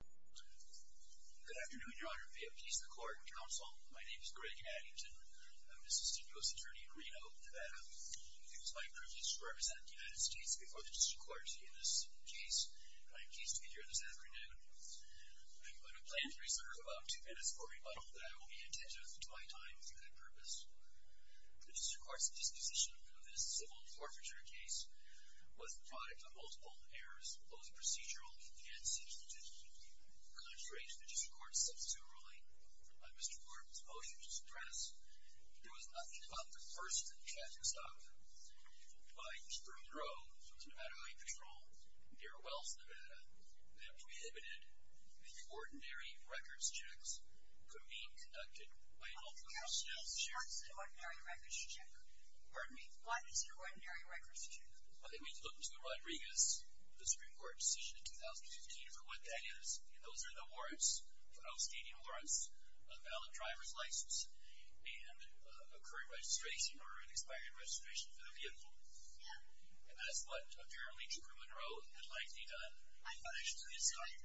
Good afternoon, your honor. May it please the court and counsel, my name is Greg Addington. I'm an assistant U.S. attorney in Reno, Nevada. It is my privilege to represent the United States before the district court in this case and I'm pleased to be here this afternoon. I'm going to plan to reserve about two minutes for rebuttal, but I will be attentive to my time for good purpose. The district court's disposition of this civil forfeiture case was the product of consideration of the district court's substitute ruling on Mr. Gorman's motion to suppress. There was nothing about the first traffic stop by Spring Grove to Nevada Highway Patrol near Wells, Nevada, that prohibited the ordinary records checks from being conducted by an officer. I'm curious to know what is an ordinary records check? Pardon me? What is an ordinary records check? I mean, look to Rodriguez, the Supreme Court's decision in 2015 for what that is, and those are the warrants, outstanding warrants, a valid driver's license, and a current registration or an expired registration for the vehicle. Yeah. And that's what apparently Gorman wrote and likely done. I thought I saw an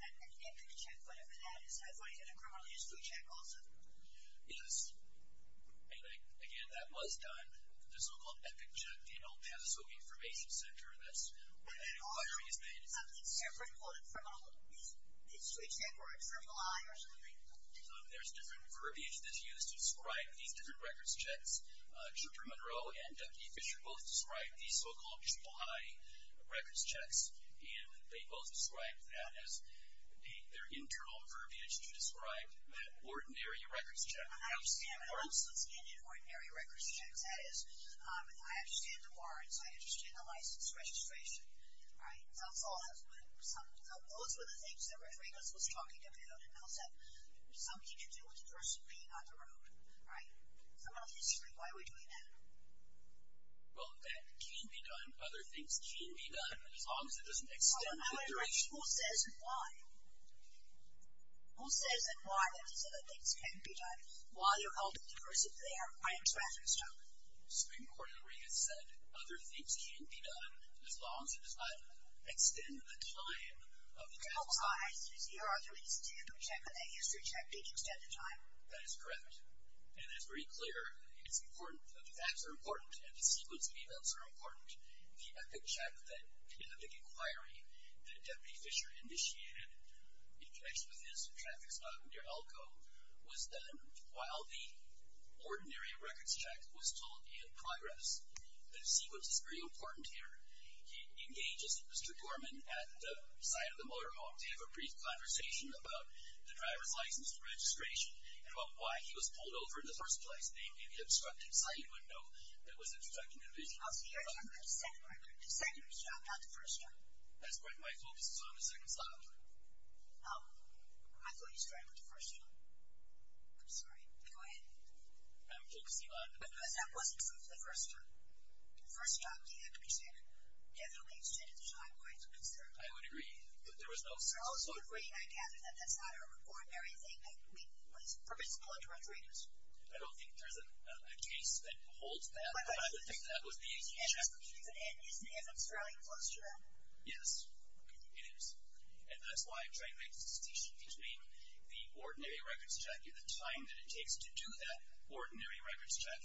epic check, whatever that is. I thought he had a criminally used food check also. Yes. And again, that was done. The so-called epic check, the El Paso Information Center, that's where that inquiry is made. There's different verbiage that's used to describe these different records checks. Chipper Monroe and Deputy Fisher both described these so-called triple high records checks, and they both described that as their internal verbiage to describe that ordinary records check. And I understand what's in an ordinary records check. That is, I understand the warrants. I understand the license, registration. Right? That's all. Those were the things that Rodriguez was talking about, and those have something to do with the person being on the road. Right? So, obviously, why are we doing that? Well, that can be done. Other things can be done, as long as it doesn't extend the duration. However, who says why? Who says that why that these other things can be done? While you're holding the person there, I am speculating. Supreme Court Rodriguez said, other things can be done, as long as it does not extend the time of the traffic stop. Triple high is the other instance of a check, but a history check didn't extend the time. That is correct, and that is very clear. It's important. The facts are important, and the sequence of events are important. The epic check in the big inquiry that Deputy Fisher initiated in connection with his traffic stop near Elko was done while the ordinary records check was still in progress. The sequence is very important here. He engages Mr. Dorman at the site of the motorhome to have a brief conversation about the driver's license and registration. And about why he was pulled over in the first place. Namely, the obstructed sight window that was obstructing the vision of the driver. Oh, so you're talking about the second record. The second stop, not the first stop. That's correct. My focus is on the second stop. Oh. I thought you started with the first stop. I'm sorry. Go ahead. I'm focusing on the first stop. Because that wasn't true for the first stop. The first stop, you have to be sure. Definitely extended the time, quite a concern. I would agree, but there was no second stop. You're also agreeing, I gather, that that's not an ordinary thing that is permissible in direct readers. I don't think there's a case that holds that. I think that was the easy check. And is Australia close to that? Yes, it is. And that's why I'm trying to make the distinction between the ordinary records check, the time that it takes to do that ordinary records check,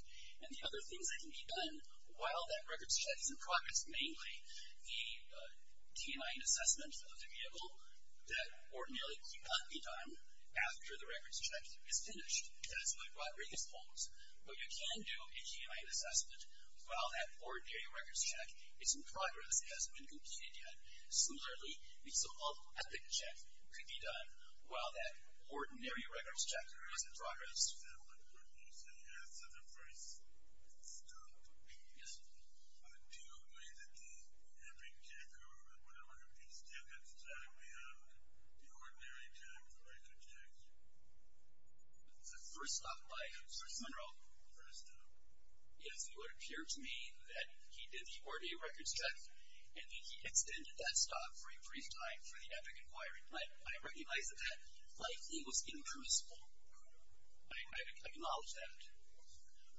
which is mainly a T&I assessment of the vehicle that ordinarily cannot be done after the records check is finished. That's what Rodriguez holds. But you can do a T&I assessment while that ordinary records check is in progress. It hasn't been completed yet. Similarly, the so-called epic check could be done while that ordinary records check is in progress. So what you're saying is that the first stop would do away with the epic check, or whatever it would be, to extend the time beyond the ordinary time for a good check? The first stop, my concern, is it would appear to me that he did the ordinary records check and that he extended that stop for a brief time for the epic inquiry. I recognize that that likely was impermissible. I acknowledge that.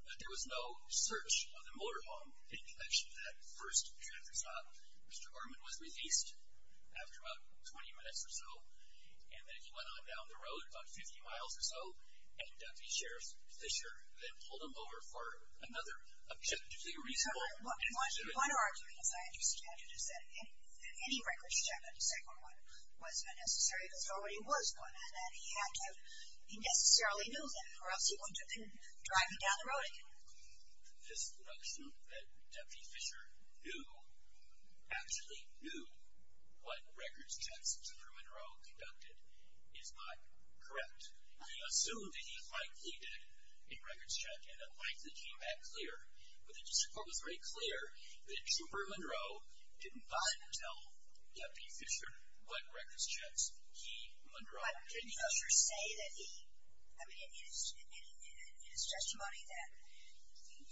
But there was no search of the motorhome in connection with that first check or stop. Mr. Gorman was released after about 20 minutes or so, and then he went on down the road about 50 miles or so, and Deputy Sheriff Fisher then pulled him over for another check. One argument, as I understand it, is that any records check on the second one wasn't necessary because there already was one, and that he had to, he necessarily knew that, or else he wouldn't have been driving down the road again. This assumption that Deputy Fisher knew, actually knew, what records checks in Truman Road conducted is not correct. We assumed that he likely did a records check and it likely came back clear, but the district court was very clear that Truman Road did not tell Deputy Fisher what records checks he conducted. But didn't Fisher say that he, I mean, in his testimony, that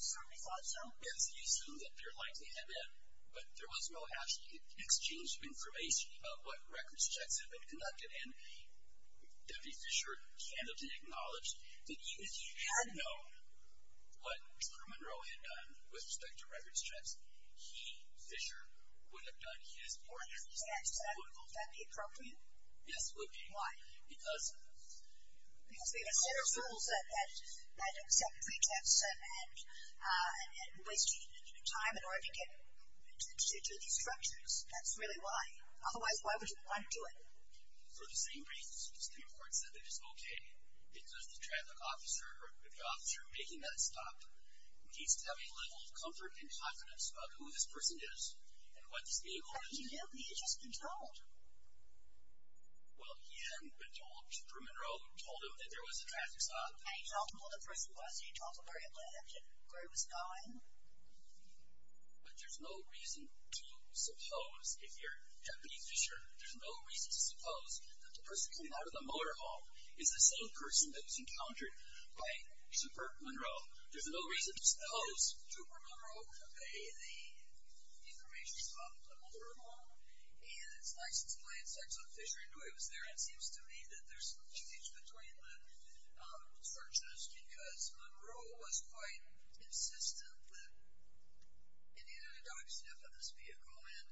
somebody thought so? Yes, he assumed that there likely had been, but there was no actual exchange of information about what records checks had been conducted, and Deputy Fisher candidly acknowledged that even if he had known what Truman Road had done with respect to records checks, he, Fisher, would have done his work. I understand. Would that be appropriate? Yes, it would be. Why? Because... Because we consider fools that accept pre-checks and waste time in order to get to these structures. That's really why. Otherwise, why would you want to do it? For the same reasons, the district court said that it's okay, because the traffic officer, or the officer making that stop, needs to have a level of comfort and confidence about who this person is and what this vehicle is. How did he know? He had just been told. Well, he hadn't been told. Truman Road told him that there was a traffic stop. And he told him who the person was, and he told him where he lived and where he was going. But there's no reason to suppose, if you're Deputy Fisher, there's no reason to suppose that the person coming out of the motorhome is the same person that was encountered by Super Monroe. There's no reason to suppose... Super Monroe could pay the information about the motorhome and its license plates, like some Fisher knew it was there. It seems to me that there's some change between the searches, because Monroe was quite insistent that he needed a dog sniff of this vehicle, and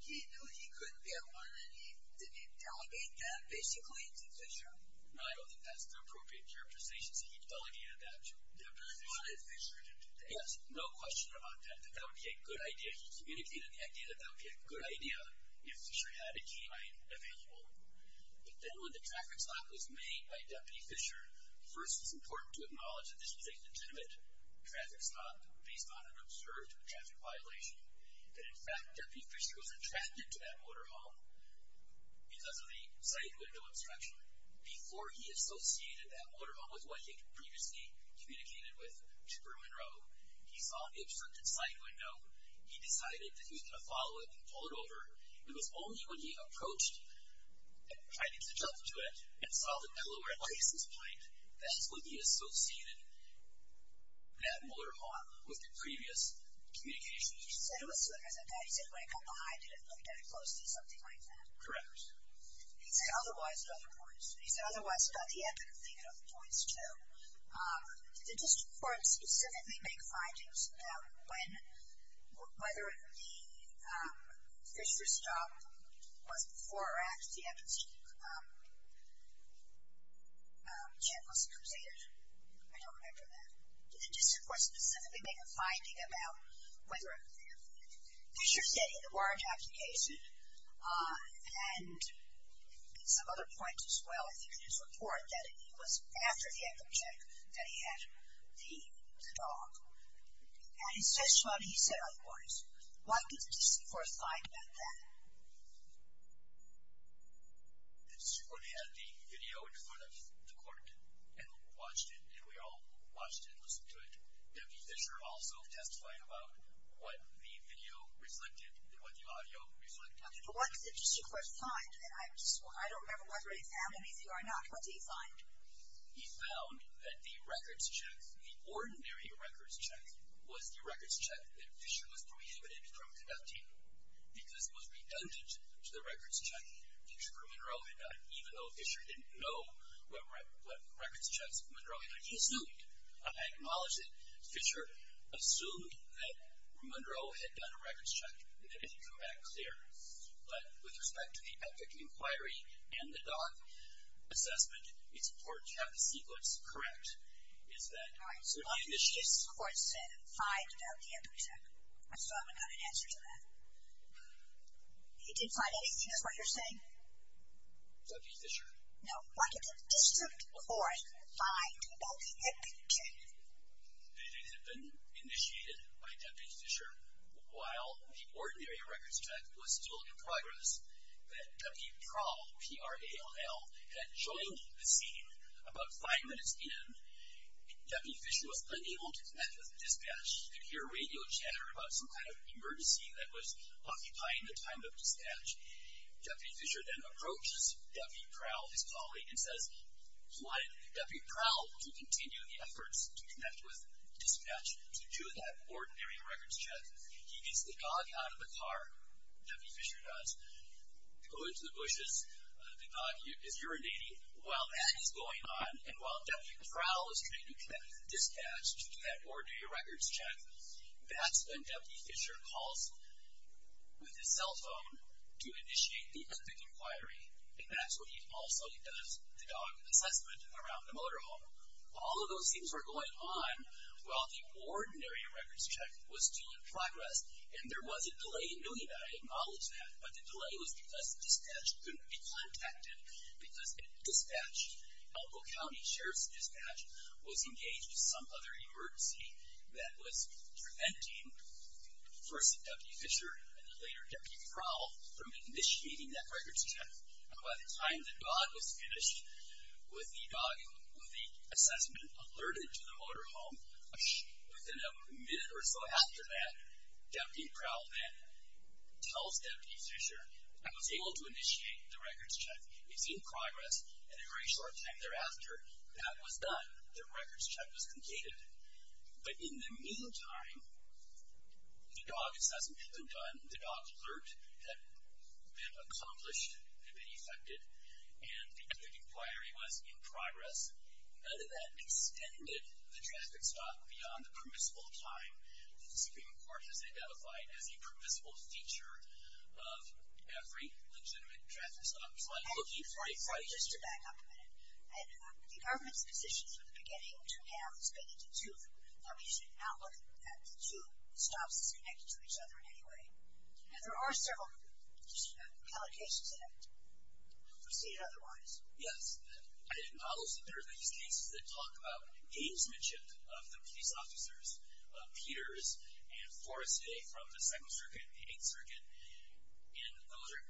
he knew he couldn't get one, and he... Did he delegate that, basically, to Fisher? No, I don't think that's the appropriate characterization. So he delegated that to Deputy Fisher. But he wanted Fisher to do it. Yes, no question about that. That would be a good idea. He communicated the idea that that would be a good idea if Fisher had a key available. But then when the traffic stop was made by Deputy Fisher, first it's important to acknowledge that this was a legitimate traffic stop based on an observed traffic violation, that, in fact, Deputy Fisher was attracted to that motorhome because of the side window obstruction. Before he associated that motorhome with what he previously communicated with Super Monroe, he saw the obstructed side window. He decided that he was going to follow it and pull it over. It was only when he approached it and tried to jump to it and saw that the lower lace was blank, that's when he associated that motorhome with the previous communication. He said it was similar to that. He said when it got behind it, it looked at it closely, something like that. Correct. He said otherwise at other points. He said otherwise about the epitome thing at other points, too. Did the district court specifically make findings about when, whether the Fisher stop was before or after the epitome check was completed? I don't remember that. Did the district court specifically make a finding about whether Fisher's getting the warrant application? And some other points as well. I think in his report that it was after the epitome check that he had the dog. At his testimony he said otherwise. What did the district court find about that? The district court had the video in front of the court and watched it, and we all watched it and listened to it. Deputy Fisher also testified about what the video reflected and what the audio reflected. What did the district court find? I don't remember whether it sounded easy or not. What did he find? He found that the records check, the ordinary records check, was the records check that Fisher was prohibited from conducting because it was redundant to the records check. Fisher from Monroe had done it, even though Fisher didn't know what records checks from Monroe had done. He assumed. I acknowledge that Fisher assumed that Monroe had done a records check. That didn't come back clear. But with respect to the epitome inquiry and the dog assessment, it's important to have the sequence correct. All right, so what did the district court find about the epitome check? I still haven't got an answer to that. He didn't find anything is what you're saying? Deputy Fisher. No. What did the district court find about the epitome check? That it had been initiated by Deputy Fisher while the ordinary records check was still in progress. That Deputy Prowl, P-R-A-L-L, had joined the scene about five minutes in. Deputy Fisher was unable to connect with the dispatch. He could hear radio chatter about some kind of emergency that was occupying the time of dispatch. Deputy Fisher then approaches Deputy Prowl, his colleague, and says, He wanted Deputy Prowl to continue the efforts to connect with dispatch to do that ordinary records check. He gets the dog out of the car, Deputy Fisher does, to go into the bushes. The dog is urinating. While that is going on, and while Deputy Prowl is trying to connect with dispatch to do that ordinary records check, that's when Deputy Fisher calls with his cell phone to initiate the epitome inquiry. And that's when he also does the dog assessment around the motorhome. All of those things were going on while the ordinary records check was still in progress. And there was a delay in doing that. I acknowledge that. But the delay was because dispatch couldn't be contacted. Because in dispatch, Elko County Sheriff's Dispatch was engaged in some other emergency that was preventing, first Deputy Fisher, and then later Deputy Prowl, from initiating that records check. And by the time the dog was finished with the assessment, alerted to the motorhome, within a minute or so after that, Deputy Prowl then tells Deputy Fisher, I was able to initiate the records check. It's in progress. And a very short time thereafter, that was done. The records check was completed. But in the meantime, the dog assessment had been done. The dog alert had been accomplished. It had been effected. And the inquiry was in progress. And that extended the traffic stop beyond the permissible time that the Supreme Court has identified as a permissible feature of every legitimate traffic stop. And just to back up a minute, the government's position from the beginning to have this big a detune, that we should not look at detunes, as stops that are connected to each other in any way. And there are several allocations in it. Proceed otherwise. Yes. I acknowledge that there are these cases that talk about gamesmanship of the police officers, Peters and Forestay from the Second Circuit and the Eighth Circuit. And those are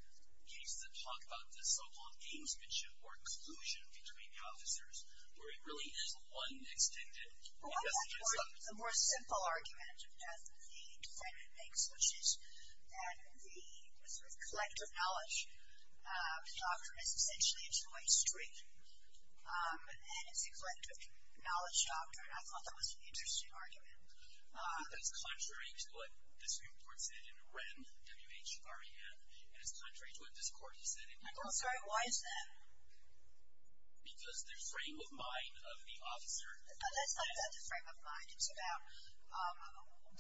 cases that talk about the so-called gamesmanship or collusion between the officers, where it really is one extended investigation. But what about the more simple argument that the defendant makes, which is that the sort of collective knowledge doctrine is essentially a joint string? And it's a collective knowledge doctrine. I thought that was an interesting argument. I think that's contrary to what the Supreme Court said in Wren, W-H-R-E-N. And it's contrary to what this Court has said in Peters. I'm sorry, why is that? Because the frame of mind of the officer is not about the frame of mind. It's about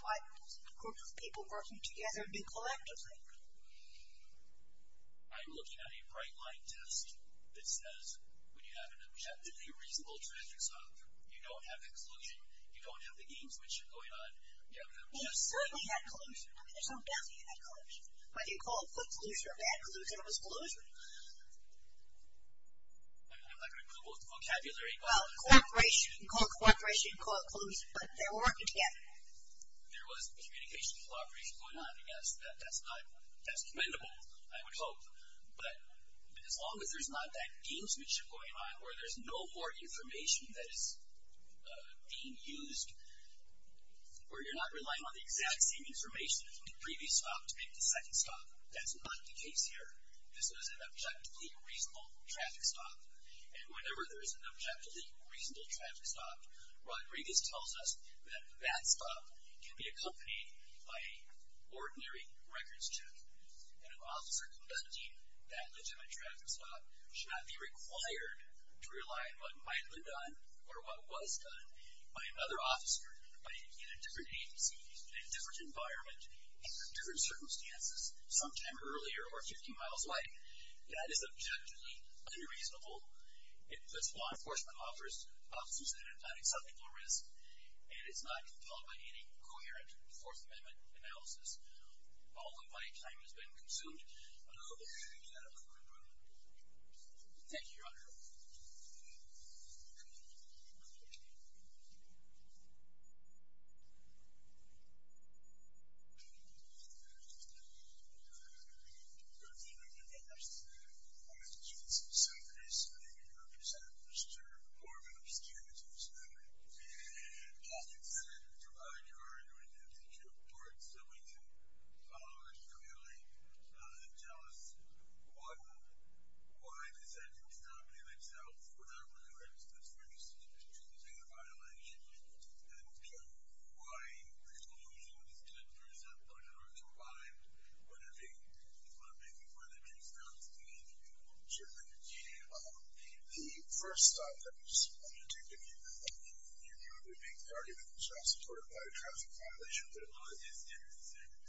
what groups of people working together do collectively. I'm looking at a bright-line test that says when you have an objectively reasonable transaction, you don't have the collusion, you don't have the gamesmanship going on, you don't have the objective. Well, you certainly had collusion. I mean, there's no doubt that you had collusion. Whether you call it good collusion or bad collusion, it was collusion. I'm not going to Google the vocabulary. Well, you can call it cooperation, you can call it collusion, but they were working together. There was communication and collaboration going on, I guess. That's commendable, I would hope. But as long as there's not that gamesmanship going on where there's no more information that is being used, where you're not relying on the exact same information from the previous stop to make the second stop, that's not the case here. This was an objectively reasonable traffic stop. And whenever there's an objectively reasonable traffic stop, Rodriguez tells us that that stop can be accompanied by an ordinary records check. And an officer conducting that legitimate traffic stop should not be required to rely on what might have been done or what was done by another officer in a different agency, in a different environment, in different circumstances, sometime earlier or 15 miles away. That is objectively unreasonable. It puts law enforcement officers at an unacceptable risk, and it's not compelled by any coherent Fourth Amendment analysis. All of my time has been consumed. Thank you, Your Honor. Mr. Socrates, I represent Mr. Marvin O'Skennett in this matter. I'd like to argue in two parts. I want you to follow it clearly and tell us why the set didn't stop in itself without regard to the first violation, and why the conclusion was good for a set point in order to arrive at what I'm making. What I'm making, what I'm making is not the conclusion. The first stop that was undertaken, you knew it would be the argument that was not supported by a traffic violation, but it wasn't.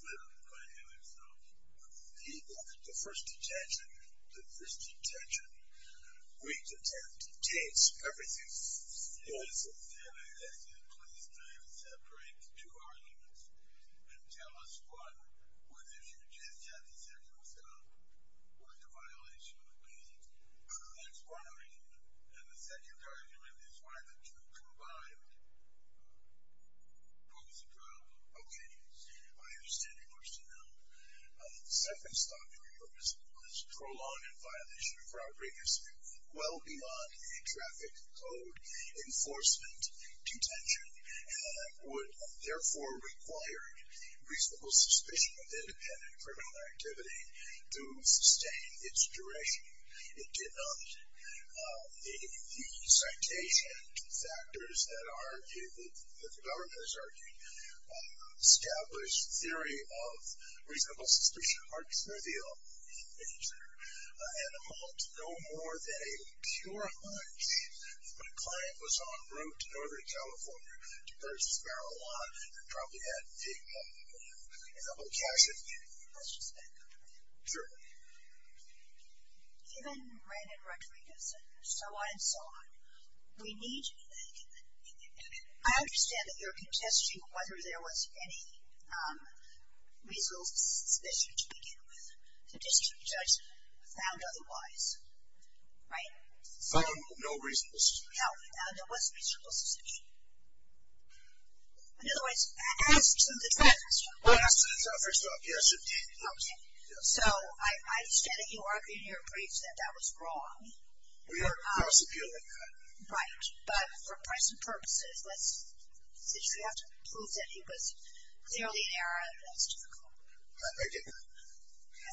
Well, it didn't stop. But it didn't stop. The first detention, the first detention, re-detent, detains. Everything falls apart. And I'd ask you to please not separate the two arguments and tell us what, whether you just had the second stop, what the violation would be. That's one argument. And the second argument is why the truth arrived. What was the problem? Okay. I understand your question now. The second stop, Your Honor, was prolonged in violation of property as well beyond a traffic code enforcement detention and would therefore require reasonable suspicion of independent criminal activity to sustain its duration. It did not. The citation factors that the government has argued established theory of reasonable suspicion are trivial in nature and amount no more than a pure hunch. My client was en route to Northern California to purchase marijuana and probably had big money in hand. And I'm going to catch it. Can I ask you a second? Sure. Given Ran and Rodriguez and so on and so on, we need to be thinking. I understand that you're contesting whether there was any reasonable suspicion to begin with. The district judge found otherwise. Right? No reasonable suspicion. No, there was reasonable suspicion. In other words, as to the traffic stop. Well, as to the traffic stop, yes, it did. Okay. So I understand that you argued in your briefs that that was wrong. We are prosecuting that. Right. But for present purposes, let's say you have to prove that he was clearly an error, that's difficult. I get that.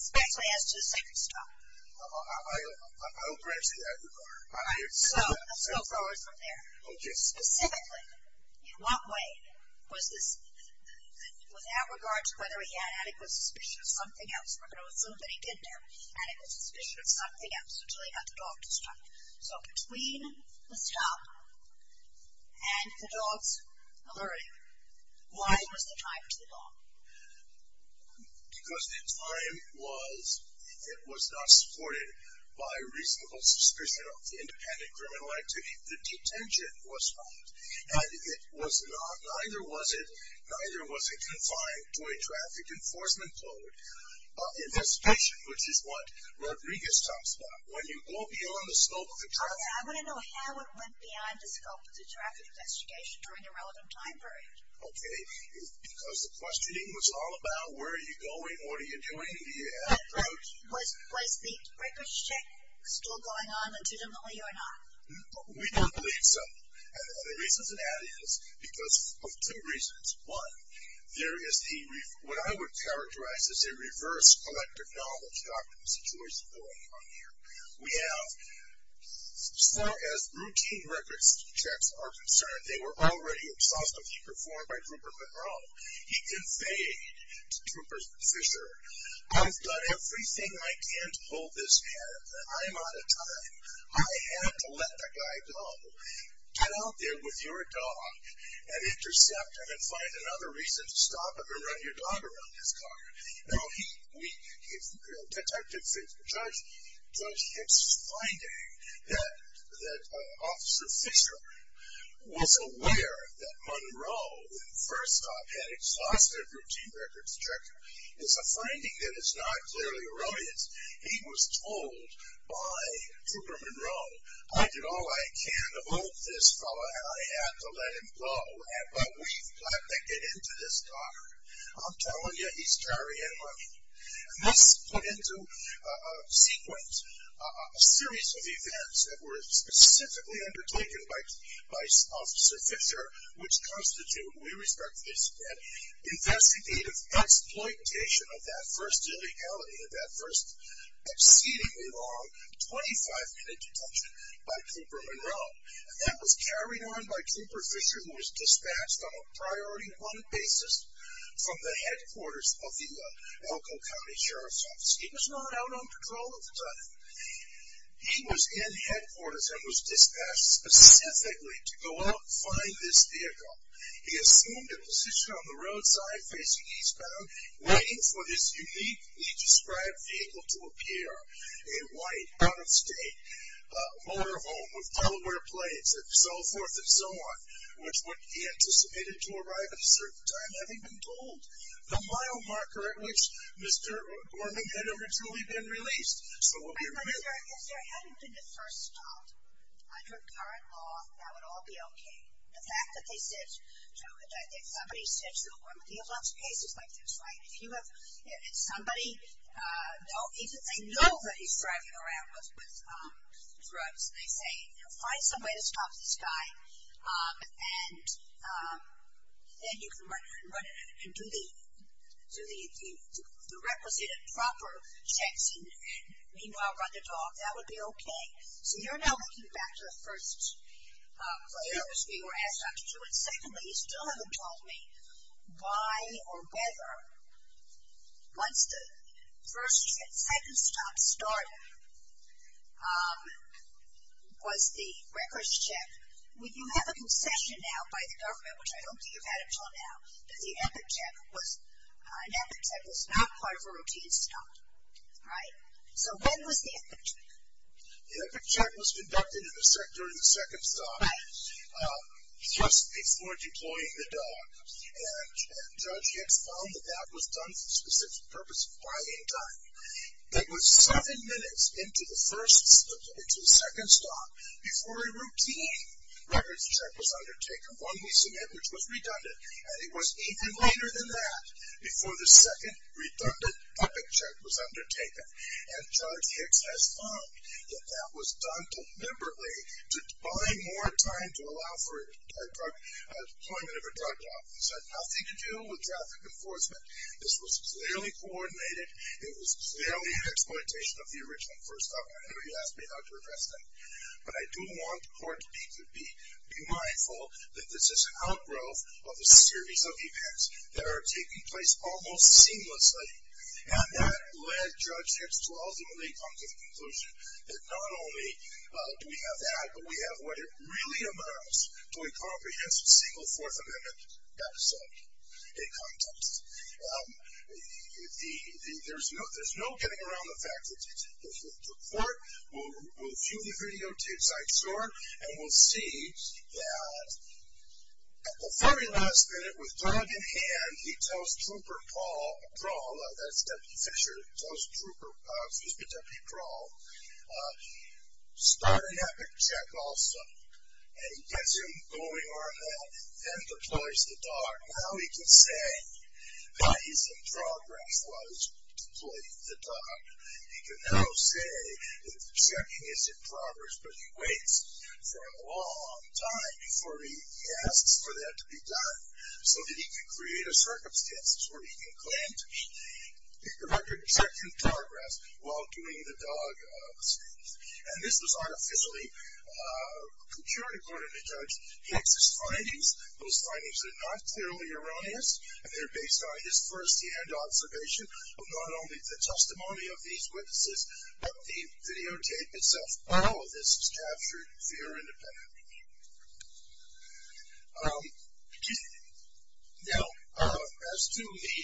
Especially as to the second stop. I don't grant you that regard. So let's go forward from there. Okay. Specifically, in what way was this, without regard to whether he had adequate suspicion of something else, we're going to assume that he didn't have adequate suspicion of something else until he got the dog to stop. So between the stop and the dog's alert, why was the time too long? Because the time was, it was not supported by reasonable suspicion of independent criminal activity. The detention was not. And it was not, neither was it, neither was it confined to a traffic enforcement code. Investigation, which is what Rodriguez talks about. When you go beyond the scope of the traffic. I want to know how it went beyond the scope of the traffic investigation during the relevant time period. Okay. The reason I'm asking is because the questioning was all about where are you going, what are you doing. Was the records check still going on legitimately or not? We don't believe so. And the reason for that is because of two reasons. One, there is a, what I would characterize as a reverse collective knowledge document situation going on here. We have, as far as routine records checks are concerned, they were already exhaustively performed by Trooper Monroe. He conveyed to Trooper Fisher, I've done everything I can to hold this hand. I'm out of time. I have to let the guy go. Get out there with your dog and intercept him and find another reason to stop him and run your dog around his car. Now, he, we, detective said to the judge, his finding that Officer Fisher was aware that Monroe, first off, had exhaustive routine records check is a finding that is not clearly erroneous. He was told by Trooper Monroe, I did all I can to hold this fellow and I had to let him go. But we've got to get into this dog. I'm telling you, he's carrying money. And this put into sequence a series of events that were specifically undertaken by Officer Fisher, which constitute, we respect this again, investigative exploitation of that first illegality, of that first exceedingly long 25-minute detention by Trooper Monroe. And that was carried on by Trooper Fisher, who was dispatched on a priority one basis from the headquarters of the Elko County Sheriff's Office. He was not out on patrol at the time. He was in headquarters and was dispatched specifically to go out and find this vehicle. He assumed a position on the roadside facing eastbound, waiting for this uniquely described vehicle to appear, a white, out-of-state motor home with Delaware plates and so forth and so on, which would be anticipated to arrive at a certain time, having been told the mile marker at which Mr. Gorman had originally been released. So we'll be remiss. If there hadn't been the first stop under current law, that would all be okay. The fact that they said, somebody said to Gorman, we have lots of cases like this, right? If you have, if somebody, they know that he's driving around with drugs and they say, find some way to stop this guy. And then you can run and do the requisite and proper checks and meanwhile run the talk. That would be okay. So you're now looking back to the first errors we were asked not to do. And secondly, you still haven't told me why or whether once the first, second stop started was the records check. You have a concession now by the government, which I don't think you've had until now, that the epic check was not part of a routine stop. Right? So when was the epic check? The epic check was conducted during the second stop, just before deploying the dog. And Judge Hicks found that that was done for the specific purpose of buying time. That was seven minutes into the first, second stop before a routine records check was undertaken. One we submit, which was redundant. And it was even later than that, before the second redundant epic check was undertaken. And Judge Hicks has found that that was done deliberately to buy more time to allow for deployment of a drug office. Had nothing to do with traffic enforcement. This was clearly coordinated. It was clearly an exploitation of the original first stop. I know you asked me how to address that. But I do want the court to be mindful that this is an outgrowth of a series of events that are taking place almost seamlessly. And that led Judge Hicks to ultimately come to the conclusion that not only do we have that, but we have what it really amounts to a comprehensive single Fourth Amendment episode in context. There's no getting around the fact that the court will view the videotapes I short and we'll see that at the very last minute with drug in hand, he tells Trooper Paul Brawl, that's Deputy Fisher, tells Trooper Paul, excuse me, Deputy Brawl, start an epic check also. And he gets him going on that, then deploys the dog. Now he can say that he's in progress while he's deploying the dog. He can now say that the checking is in progress, but he waits for a long time before he asks for that to be done, so that he can create a circumstance where he can claim to have checked in progress while doing the dog. And this was artificially procured according to Judge Hicks' findings. Those findings are not clearly erroneous, and they're based on his first-hand observation of not only the testimony of these witnesses, but the videotape itself. All of this is captured fear independently. Now, as to the,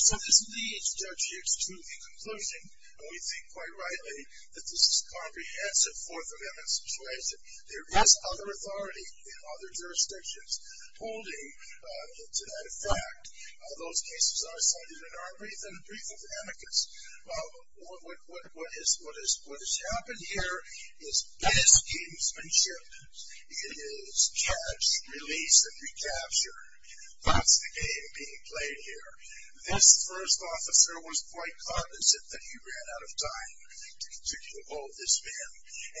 so this leads Judge Hicks to the conclusion, and we think quite rightly, that this is a comprehensive Fourth Amendment situation. There is other authority in other jurisdictions holding, and to that effect, those cases are cited in our brief, in the brief of amicus. What has happened here is mismanship. It is catch, release, and recapture. That's the game being played here. This first officer was quite cognizant that he ran out of time to continue to hold this man.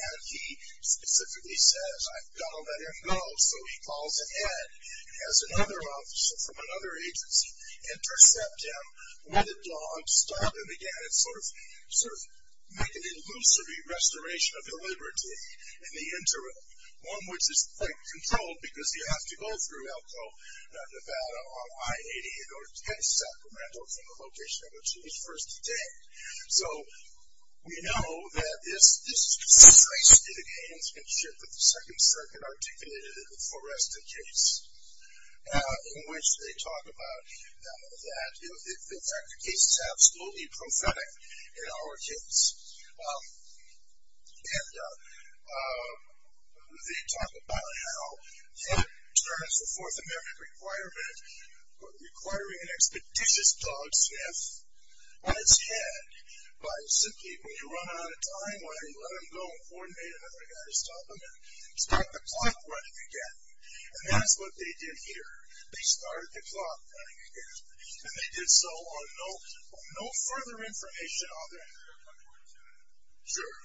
And he specifically says, I've got to let him go. So he calls ahead, has another officer from another agency intercept him with a dog, stopped him again, and sort of make an illusory restoration of the liberty in the interim, one which is quite controlled because you have to go through Elko, Nevada, on I-88 or 10 Sacramento from the location of a Jewish first detainee. So we know that this situation is a gamesmanship that the Second Circuit articulated in the Forreston case in which they talk about that, in fact, the case is absolutely prophetic in our case. And they talk about how it turns the Fourth Amendment requirement requiring an expeditious dog sniff on its head by simply, when you run out of time, go ahead and let him go, coordinate another guy to stop him, and start the clock running again. And that's what they did here. They started the clock running again. And they did so on no further information other than that. Sure.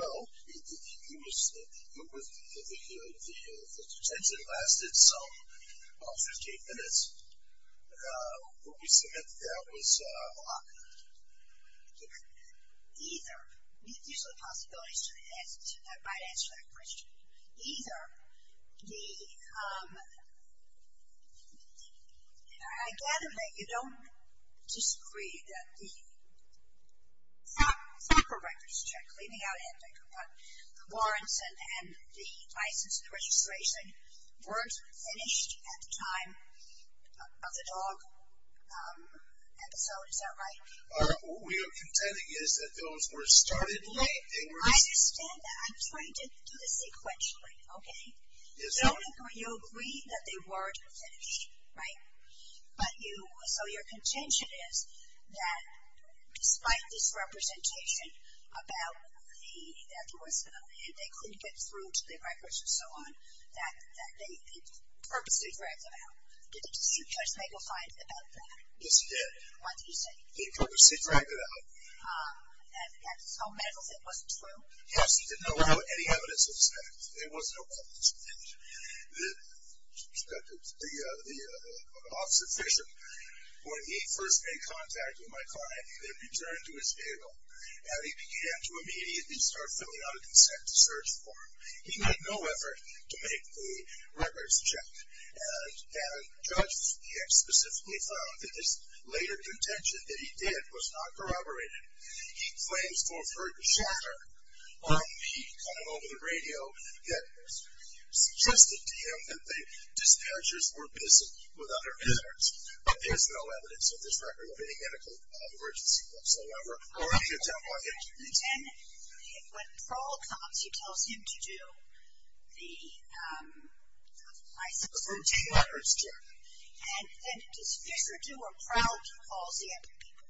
Well, the detention lasted some 15 minutes. What we submit to that was a lock. Either. These are the possibilities to the answer to that question. Either the, I gather that you don't disagree that the soccer records check, leaving out Ed Becker, but the warrants and the license and registration weren't finished at the time of the dog episode. Is that right? What we are contending is that those were started late. I understand that. I'm trying to do this sequentially, okay? Yes, ma'am. So you agree that they weren't finished, right? But you, so your contention is that despite this representation about the, that they couldn't get through to the records and so on, that they purposely dragged them out. Did Judge Magle find about that? Yes, he did. What did he say? He purposely dragged it out. At the Texas Home Medicals, it wasn't true? Yes, he didn't know any evidence of this. There was no evidence. And the office official, when he first made contact with my client, they returned to his table, and he began to immediately start filling out a consent to search form. He made no effort to make the records check. And Judge Fiegg specifically found that this later contention that he did was not corroborated. He claims for further chatter. He called over the radio that suggested to him that the dispatchers were busy with other matters. But there's no evidence of this record of any medical emergency whatsoever, or any attempt on his part. And when Prowl comes, he tells him to do the license. The routine records check. And does Fisher do or Prowl calls the epic people?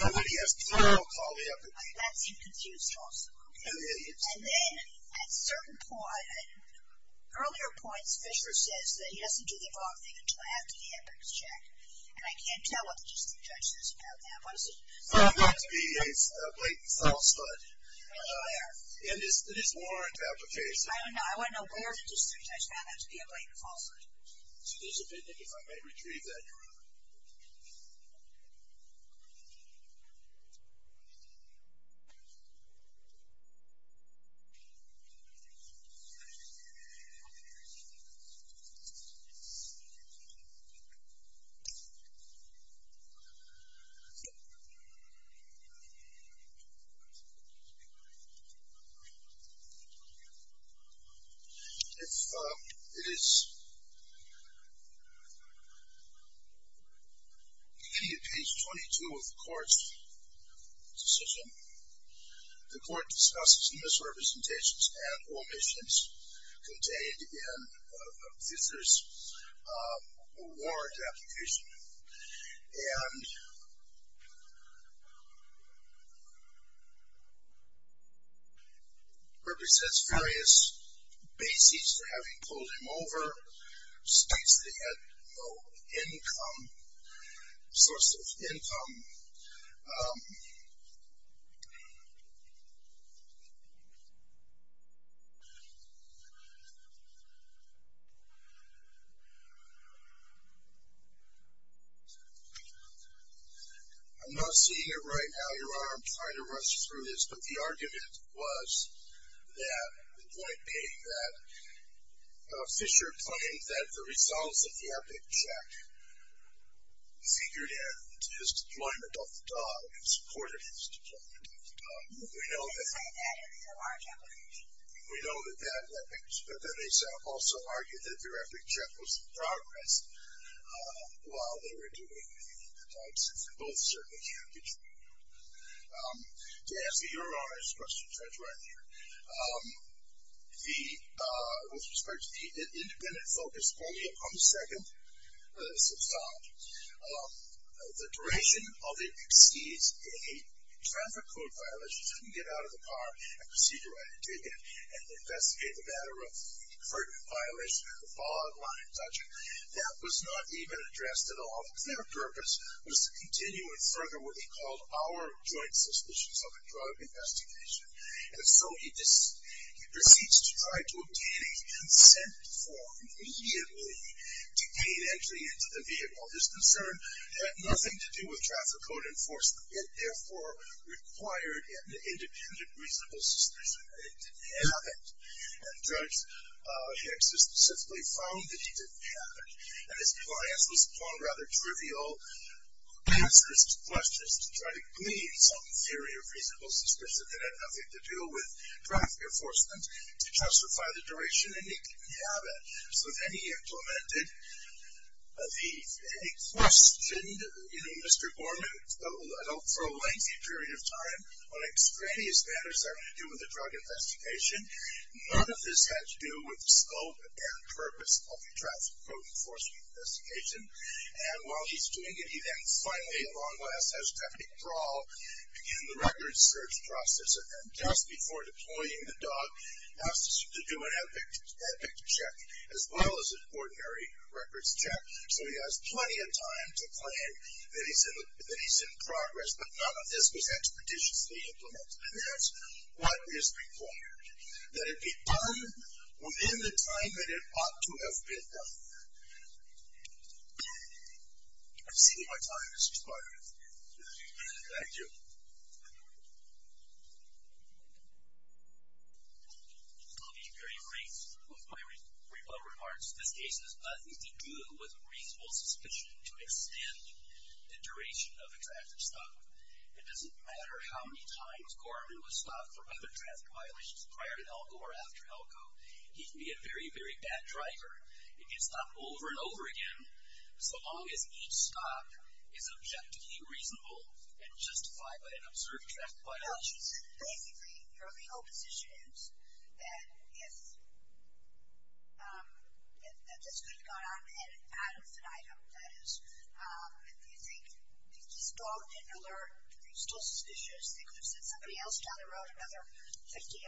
Nobody asked Prowl to call the epic people. That seemed confused also. It is. And then at certain points, Fisher says that he doesn't do the wrong thing until after the epic is checked. And I can't tell what the district judge says about that. What is it? Found that to be a blatant falsehood. Where? In this warrant application. I want to know where the district judge found that to be a blatant falsehood. There's a vignette if I may retrieve that. Okay. If it is Okay. Page 22 of the court's decision. The court discusses misrepresentations and omissions contained in Fisher's warrant application. And represents various basics for having pulled him over, states that he had no income, source of income. I'm not seeing it right now. Your Honor, I'm trying to rush through this. But the argument was that, in point A, that Fisher claimed that the results of the epic check figured in to his deployment of the dog and supported his deployment of the dog. We know that. We know that they also argued that their epic check was in progress while they were doing the types. And both certainly can't be true. To answer your Honor's question, Judge Reiner, with respect to the independent focus only upon the second substantive, the duration of the exceeds a traffic code violation, so you can get out of the car and proceed to write a ticket and investigate the matter of a pertinent violation of the following line of judgment, that was not even addressed at all. Their purpose was to continue and further what they called our joint suspicions of a drug investigation. And so he proceeds to try to obtain a consent form immediately to gain entry into the vehicle. His concern had nothing to do with traffic code enforcement. It, therefore, required an independent reasonable suspicion. It didn't have it. And Judge Hicks has specifically found that he didn't have it. And his client was drawn rather trivial answers to questions to try to glean some theory of reasonable suspicion. It had nothing to do with traffic enforcement to justify the duration. And he didn't have it. So then he implemented the, he questioned, you know, Mr. Gorman, for a lengthy period of time, on extraneous matters having to do with the drug investigation. None of this had to do with the scope and purpose of the traffic code enforcement investigation. And while he's doing it, he then finally, at long last, has to have a brawl in the records search process. And just before deploying the dog, he has to do an epic check as well as an ordinary records check. So he has plenty of time to claim that he's in progress. But none of this was expeditiously implemented. And that's what is required. That it be done within the time that it ought to have been done. I've exceeded my time, Mr. Spodron. Thank you. I'll be very brief with my rebuttal remarks. This case has nothing to do with reasonable suspicion to extend the duration of exacted stop. It doesn't matter how many times Gorman was stopped for other traffic violations prior to ELCO or after ELCO. He can be a very, very bad driver and get stopped over and over again, so long as each stop is objectively reasonable and justified by an observed traffic violation. No, she's basically, your legal position is that if this could have gone on at an ad infinitum, that is, if you think he's gone and alert, you're still suspicious, they could have sent somebody else down the road another 50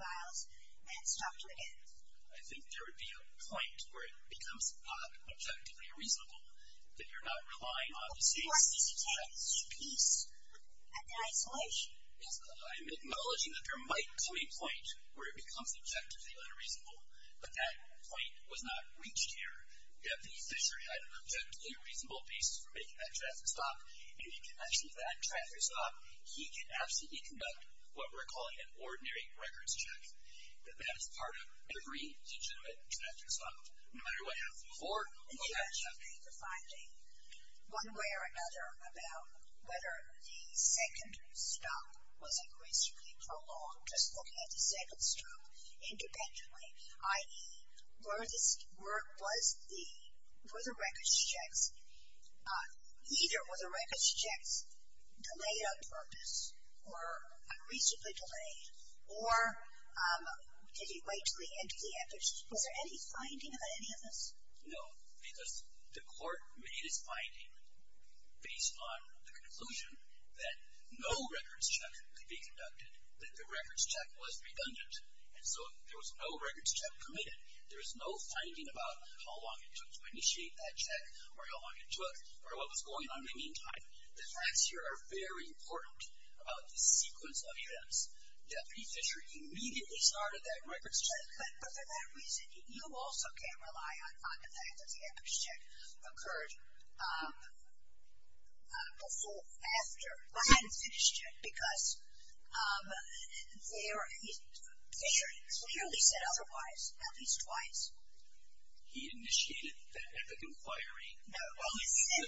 miles and stopped him again. I think there would be a point where it becomes not objectively reasonable that you're not relying on the state's... Well, Gorman needs to take his peace and isolation. Yes, but I'm acknowledging that there might come a point where it becomes objectively unreasonable, but that point was not reached here. If the officer had an objectively reasonable basis for making that traffic stop, if he can actually make that traffic stop, he can absolutely conduct what we're calling an ordinary records check, that that is part of every legitimate traffic stop, no matter what happens before or after. And can I just make a finding, one way or another, about whether the second stop was increasingly prolonged, just looking at the second stop independently, i.e., were this... were the records checks... either were the records checks delayed on purpose or unreasonably delayed or did it wait until the end of the effort? Was there any finding about any of this? No, because the court made its finding based on the conclusion that no records check could be conducted, that the records check was redundant, and so there was no records check committed. There was no finding about how long it took to initiate that check or how long it took or what was going on in the meantime. The facts here are very important about the sequence of events. Deputy Fisher immediately started that records check. But for that reason, you also can't rely on the fact that the records check occurred before, after But he hadn't finished it because there... Fisher clearly said otherwise, at least twice. He initiated that epic inquiry... No, but he said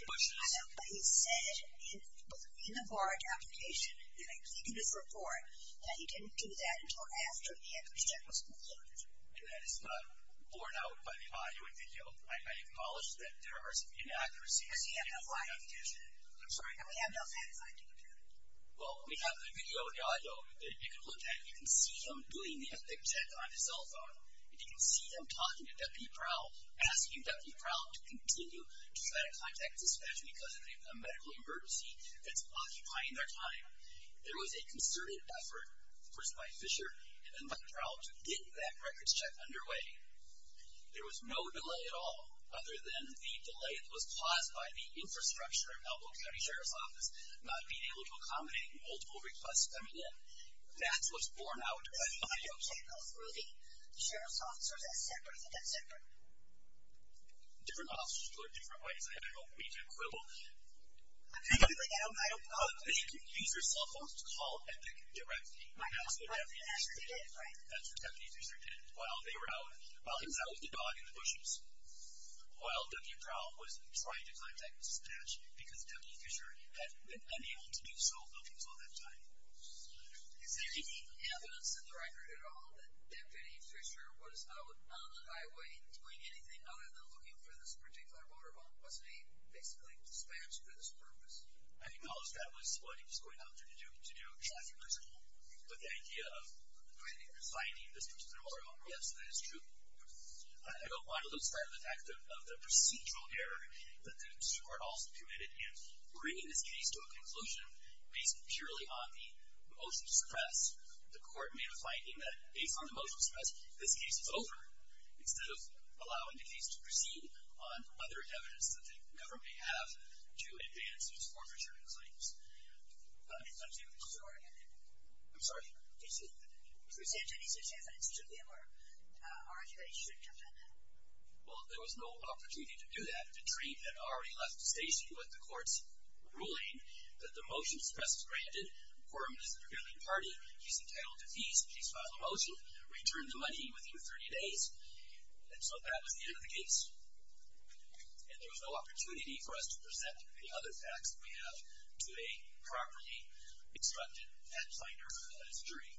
in the barred application, and I believe in his report, that he didn't do that until after the records check was completed. And that is not borne out by the audio and video. I acknowledge that there are some inaccuracies in the application. I'm sorry, I have no fantasy. Well, we have the video and the audio. You can look at it, you can see him doing the epic check on his cell phone. You can see him talking to Deputy Prowell, asking Deputy Prowell to continue to try to contact dispatch because of a medical emergency that's occupying their time. There was a concerted effort, first by Fisher, and then by Prowell to get that records check underway. There was no delay at all, other than the delay that was caused by the infrastructure of the Elbow County Sheriff's Office not being able to accommodate multiple requests coming in. That's what's borne out by the audio. But you can't go through the sheriff's officers as separate. Is it that separate? Different officers do it different ways. I don't mean to quibble. I don't know. But you can use your cell phone to call epic directly. That's what Deputy Fisher did. That's what Deputy Fisher did while he was out with the dog in the bushes, while Deputy Prowell was trying to contact dispatch because Deputy Fisher had been unable to do so until that time. Is there any evidence in the record at all that Deputy Fisher was out on the highway doing anything other than looking for this particular motorhome? Wasn't he basically dispatched for this purpose? I acknowledge that was what he was going out there to do, but the idea of finding this particular motorhome, yes, that is true. I don't want to lose sight of the fact of the procedural error that the court also committed in bringing this case to a conclusion based purely on the motion to suppress. The court made a finding that based on the motion to suppress, this case is over instead of allowing the case to proceed on other evidence that the government may have to advance its forfeiture claims. I'm sorry. Did you present any such evidence to him or argue that he shouldn't have done that? Well, there was no opportunity to do that. The train had already left the station with the court's ruling that the motion to suppress was granted. The former minister of the Greenland Party, he's entitled to fees if he's filed a motion, return the money within 30 days. And so that was the end of the case. And there was no opportunity for us to present any other facts that we have to a properly instructed head finder of the history.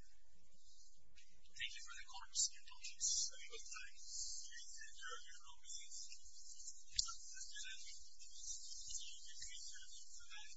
Thank you for the court's indulgence. Thank you.